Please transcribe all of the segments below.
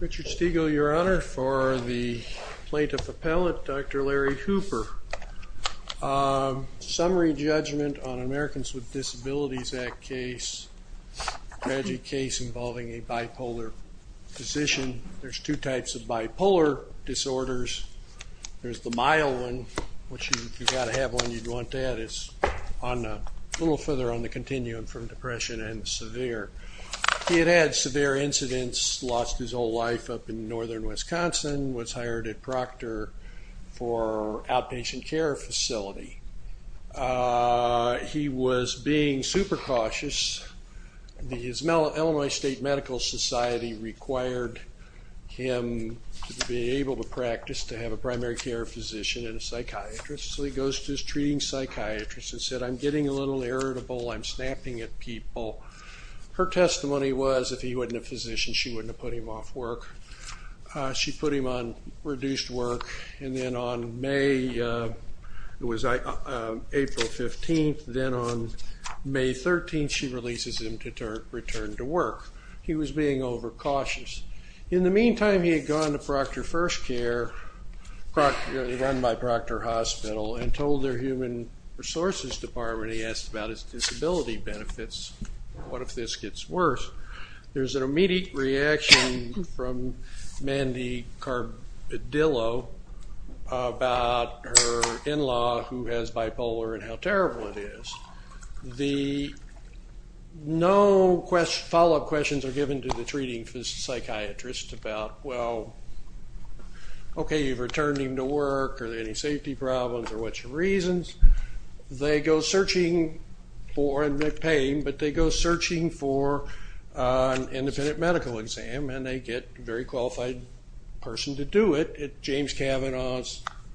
Richard Stegall, Your Honor, for the Plaintiff Appellate, Dr. Larry Hooper. Summary judgment on Americans with Disabilities Act case. Tragic case involving a bipolar physician. There's two types of bipolar disorders. There's the mild one, which if you've got to have one, you'd want that. It's a little further on the continuum from depression and severe. He had had severe incidents, lost his whole life up in northern Wisconsin, was hired at Proctor for outpatient care facility. He was being super cautious. The Illinois State Medical Society required him to be able to practice, to have a primary care physician and a psychiatrist. So he goes to his treating psychiatrist and said, I'm getting a little irritable, I'm snapping at people. Her testimony was if he wasn't a physician, she wouldn't have put him off work. She put him on reduced work. And then on April 15th, then on May 13th, she releases him to return to work. He was being overcautious. In the meantime, he had gone to Proctor First Care, run by Proctor Hospital, and told their human resources department he asked about his disability benefits, what if this gets worse. There's an immediate reaction from Mandy Carbidillo about her in-law, who has bipolar, and how terrible it is. No follow-up questions are given to the treating psychiatrist about, well, okay, you've returned him to work. Are there any safety problems or what's your reasons? They go searching for, and they pay him, but they go searching for an independent medical exam, and they get a very qualified person to do it, James Cavanaugh.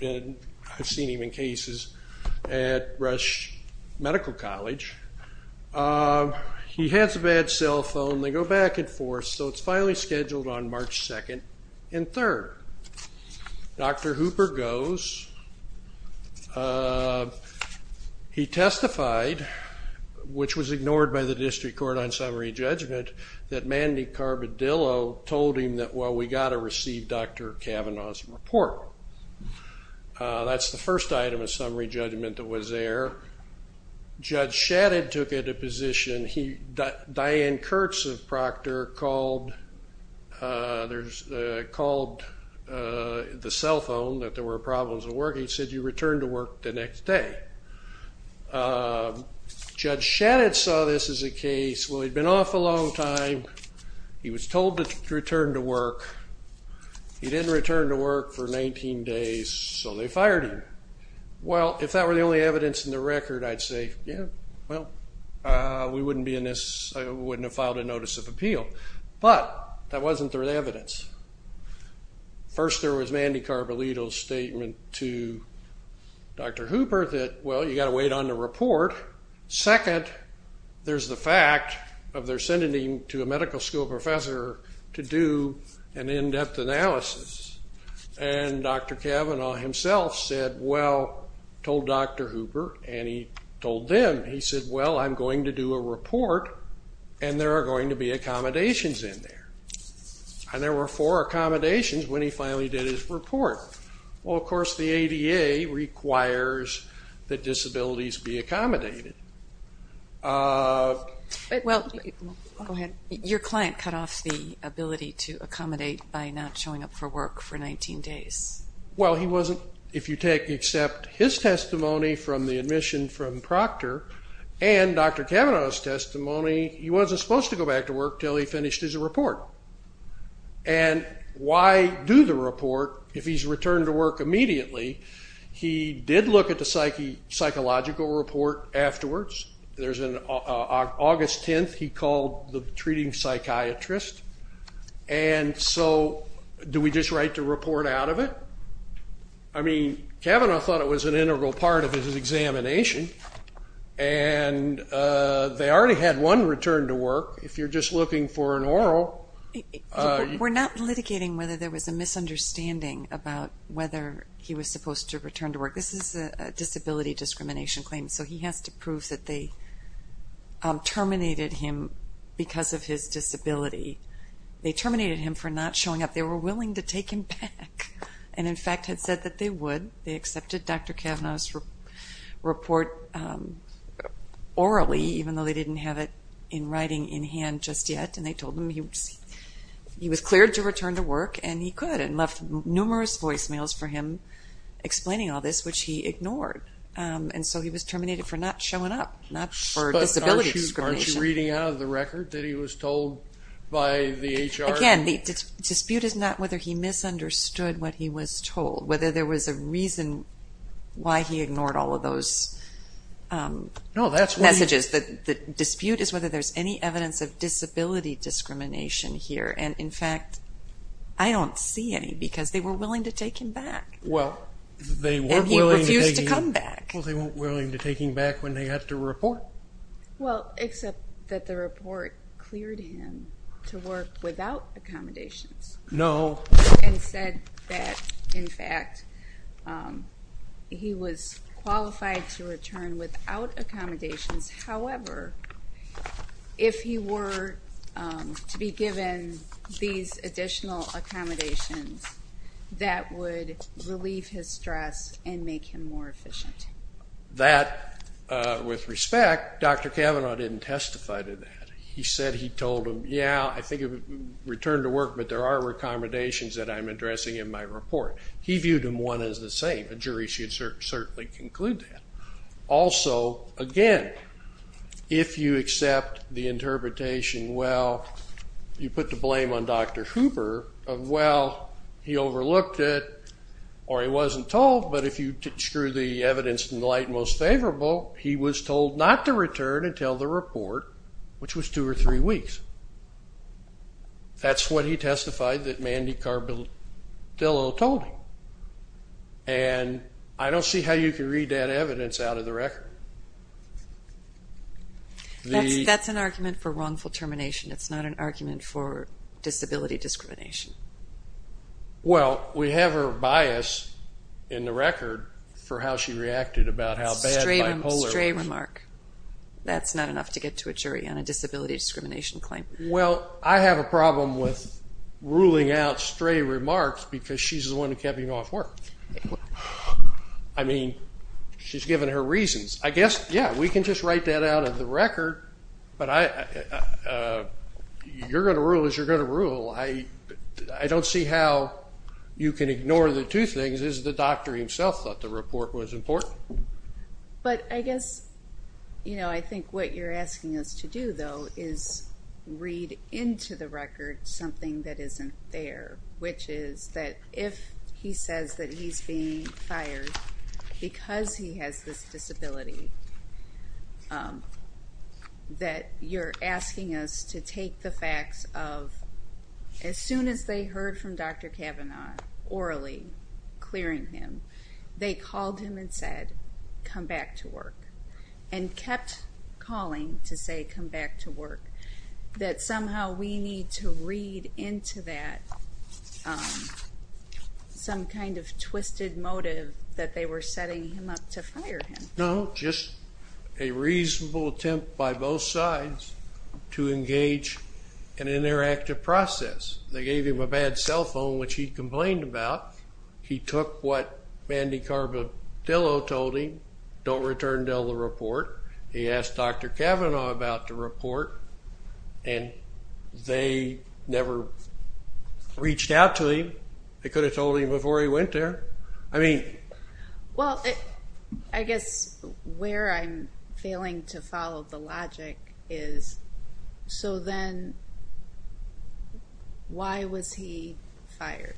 I've seen him in cases at Rush Medical College. He has a bad cell phone. They go back and forth. So it's finally scheduled on March 2nd and 3rd. Dr. Hooper goes. He testified, which was ignored by the district court on summary judgment, that Mandy Carbidillo told him that, well, we've got to receive Dr. Cavanaugh's report. That's the first item of summary judgment that was there. Judge Shadid took a position. Diane Kurtz of Proctor called the cell phone that there were problems at work. He said, you return to work the next day. Judge Shadid saw this as a case, well, he'd been off a long time. He was told to return to work. He didn't return to work for 19 days, so they fired him. Well, if that were the only evidence in the record, I'd say, yeah, well, we wouldn't have filed a notice of appeal. But that wasn't their evidence. First, there was Mandy Carbidillo's statement to Dr. Hooper that, well, you've got to wait on the report. Second, there's the fact of their sending him to a medical school professor to do an in-depth analysis. And Dr. Cavanaugh himself said, well, told Dr. Hooper, and he told them, he said, well, I'm going to do a report, and there are going to be accommodations in there. And there were four accommodations when he finally did his report. Well, of course, the ADA requires that disabilities be accommodated. Your client cut off the ability to accommodate by not showing up for work for 19 days. Well, he wasn't, if you take except his testimony from the admission from Proctor and Dr. Cavanaugh's testimony, he wasn't supposed to go back to work until he finished his report. And why do the report if he's returned to work immediately? He did look at the psychological report afterwards. There's an August 10th he called the treating psychiatrist. And so do we just write the report out of it? I mean, Cavanaugh thought it was an integral part of his examination, and they already had one return to work. If you're just looking for an oral. We're not litigating whether there was a misunderstanding about whether he was supposed to return to work. This is a disability discrimination claim, so he has to prove that they terminated him because of his disability. They terminated him for not showing up. They were willing to take him back and, in fact, had said that they would. They accepted Dr. Cavanaugh's report orally, even though they didn't have it in writing in hand just yet. And they told him he was cleared to return to work, and he could, and left numerous voicemails for him explaining all this, which he ignored. And so he was terminated for not showing up, not for disability discrimination. But aren't you reading out of the record that he was told by the HR? Again, the dispute is not whether he misunderstood what he was told, whether there was a reason why he ignored all of those messages. The dispute is whether there's any evidence of disability discrimination here. And, in fact, I don't see any because they were willing to take him back. And he refused to come back. Well, they weren't willing to take him back when they got the report. Well, except that the report cleared him to work without accommodations. No. And said that, in fact, he was qualified to return without accommodations. However, if he were to be given these additional accommodations, that would relieve his stress and make him more efficient. That, with respect, Dr. Kavanaugh didn't testify to that. He said he told him, yeah, I think you can return to work, but there are accommodations that I'm addressing in my report. He viewed them one and the same. A jury should certainly conclude that. Also, again, if you accept the interpretation, well, you put the blame on Dr. Hooper of, well, he overlooked it or he wasn't told, but if you drew the evidence in the light most favorable, he was told not to return until the report, which was two or three weeks. That's what he testified that Mandy Carbidello told him. And I don't see how you can read that evidence out of the record. That's an argument for wrongful termination. It's not an argument for disability discrimination. Well, we have her bias in the record for how she reacted about how bad bipolar was. Stray remark. That's not enough to get to a jury on a disability discrimination claim. Well, I have a problem with ruling out stray remarks because she's the one who kept me off work. I mean, she's given her reasons. I guess, yeah, we can just write that out of the record, but you're going to rule as you're going to rule. I don't see how you can ignore the two things, as the doctor himself thought the report was important. But I guess, you know, I think what you're asking us to do, though, is read into the record something that isn't there, which is that if he says that he's being fired because he has this disability, that you're asking us to take the facts of, as soon as they heard from Dr. Kavanaugh orally clearing him, they called him and said, come back to work, and kept calling to say, come back to work, that somehow we need to read into that some kind of twisted motive that they were setting him up to fire him. No, just a reasonable attempt by both sides to engage in an interactive process. They gave him a bad cell phone, which he complained about. He took what Mandy Carbadillo told him, don't return until the report. He asked Dr. Kavanaugh about the report, and they never reached out to him. They could have told him before he went there. Well, I guess where I'm failing to follow the logic is, so then why was he fired?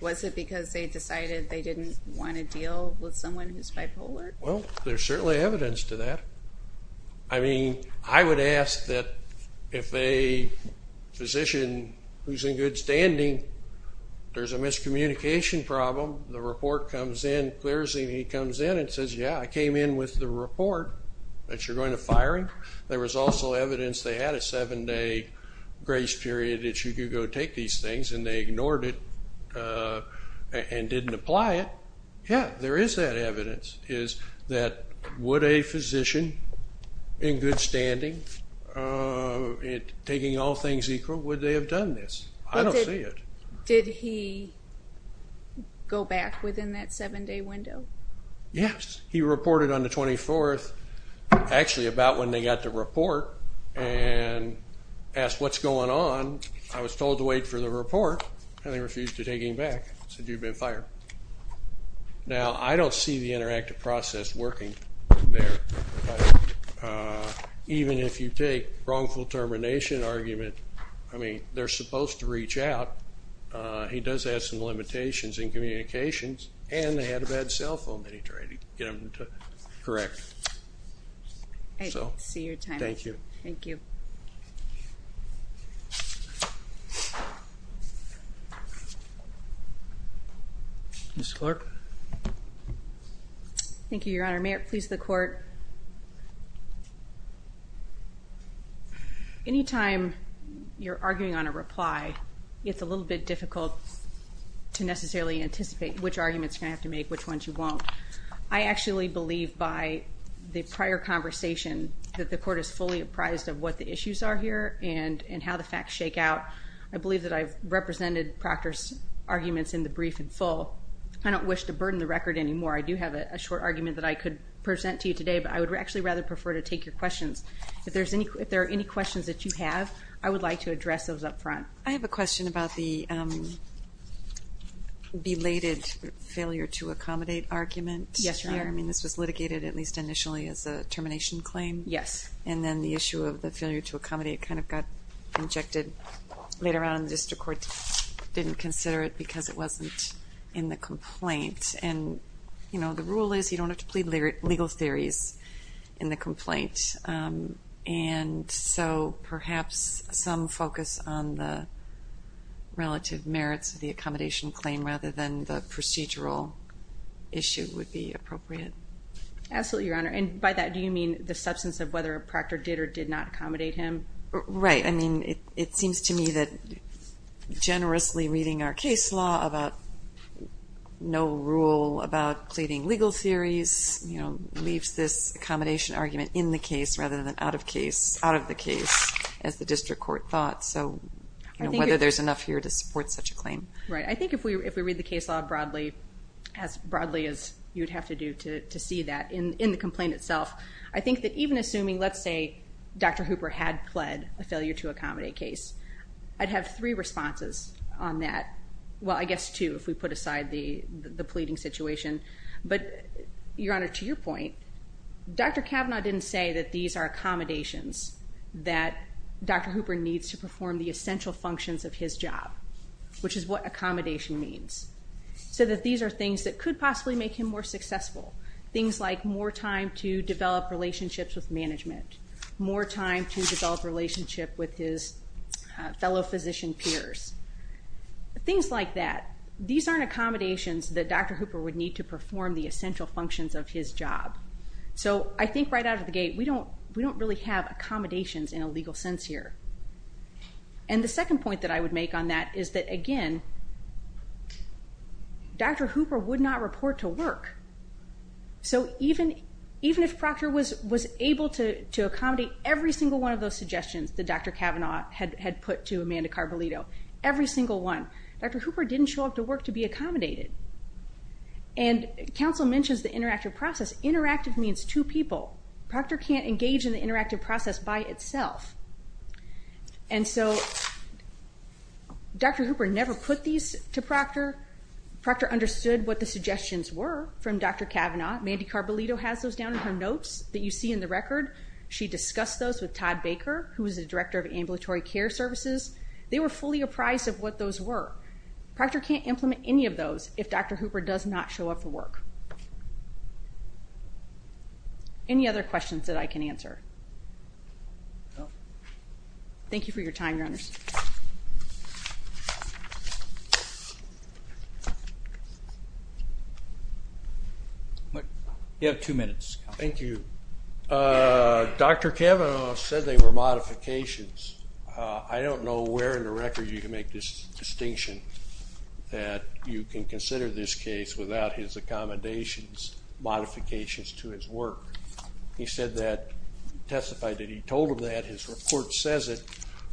Was it because they decided they didn't want to deal with someone who's bipolar? Well, there's certainly evidence to that. I mean, I would ask that if a physician who's in good standing, there's a miscommunication problem, the report comes in, clears and he comes in and says, yeah, I came in with the report that you're going to fire him. There was also evidence they had a seven-day grace period that you could go take these things, and they ignored it and didn't apply it. So, yeah, there is that evidence is that would a physician in good standing, taking all things equal, would they have done this? I don't see it. Did he go back within that seven-day window? Yes. He reported on the 24th, actually about when they got the report, and asked what's going on. I was told to wait for the report, and they refused to take him back, said you've been fired. Now, I don't see the interactive process working there. Even if you take wrongful termination argument, I mean, they're supposed to reach out. He does have some limitations in communications, and they had a bad cell phone that he tried to get them to correct. I see your timing. Thank you. Thank you. Ms. Clark. Thank you, Your Honor. May it please the Court. Anytime you're arguing on a reply, it's a little bit difficult to necessarily anticipate which arguments you're going to have to make, which ones you won't. I actually believe by the prior conversation that the Court is fully apprised of what the issues are here and how the facts shake out. I believe that I've represented Proctor's arguments in the brief in full. I don't wish to burden the record anymore. I do have a short argument that I could present to you today, but I would actually rather prefer to take your questions. If there are any questions that you have, I would like to address those up front. I have a question about the belated failure-to-accommodate argument. Yes, Your Honor. I mean, this was litigated at least initially as a termination claim. Yes. And then the issue of the failure-to-accommodate kind of got injected later on, and the district court didn't consider it because it wasn't in the complaint. And, you know, the rule is you don't have to plead legal theories in the complaint. And so perhaps some focus on the relative merits of the accommodation claim rather than the procedural issue would be appropriate. Absolutely, Your Honor. And by that, do you mean the substance of whether Proctor did or did not accommodate him? Right. I mean, it seems to me that generously reading our case law about no rule about pleading legal theories, you know, leaves this accommodation argument in the case rather than out of the case, as the district court thought. So whether there's enough here to support such a claim. Right. I think if we read the case law broadly, as broadly as you would have to do to see that in the complaint itself, I think that even assuming, let's say, Dr. Hooper had pled a failure-to-accommodate case, I'd have three responses on that. Well, I guess two if we put aside the pleading situation. But, Your Honor, to your point, Dr. Kavanaugh didn't say that these are accommodations, that Dr. Hooper needs to perform the essential functions of his job, which is what accommodation means, so that these are things that could possibly make him more successful, things like more time to develop relationships with management, more time to develop relationships with his fellow physician peers, things like that. These aren't accommodations that Dr. Hooper would need to perform the essential functions of his job. So I think right out of the gate, we don't really have accommodations in a legal sense here. And the second point that I would make on that is that, again, Dr. Hooper would not report to work. So even if Proctor was able to accommodate every single one of those suggestions that Dr. Kavanaugh had put to Amanda Carvalito, every single one, Dr. Hooper didn't show up to work to be accommodated. And counsel mentions the interactive process. Interactive means two people. Proctor can't engage in the interactive process by itself. And so Dr. Hooper never put these to Proctor. Proctor understood what the suggestions were from Dr. Kavanaugh. Mandy Carvalito has those down in her notes that you see in the record. She discussed those with Todd Baker, who is the director of ambulatory care services. They were fully apprised of what those were. Proctor can't implement any of those if Dr. Hooper does not show up for work. Any other questions that I can answer? Thank you for your time, Your Honors. You have two minutes. Thank you. Dr. Kavanaugh said they were modifications. I don't know where in the record you can make this distinction, that you can consider this case without his accommodations, modifications to his work. He testified that he told him that. His report says it.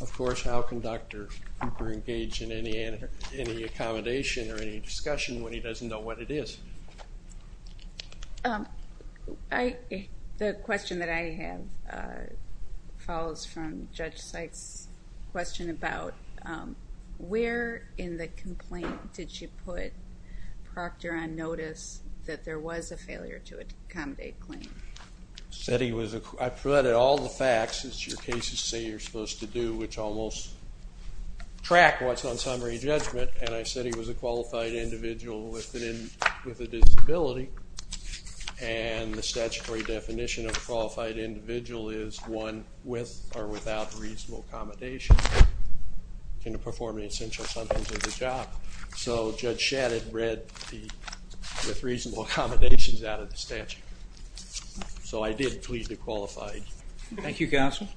Of course, how can Dr. Hooper engage in any accommodation or any discussion when he doesn't know what it is? The question that I have follows from Judge Seitz's question about where in the complaint did she put Proctor on notice that there was a failure to accommodate claims? I provided all the facts, as your cases say you're supposed to do, which almost track what's on summary judgment, and I said he was a qualified individual with a disability and the statutory definition of a qualified individual is one with or without reasonable accommodations, and to perform an essential sentence of the job. So Judge Shadid read the reasonable accommodations out of the statute. So I did plead to qualified. Thank you, Counsel.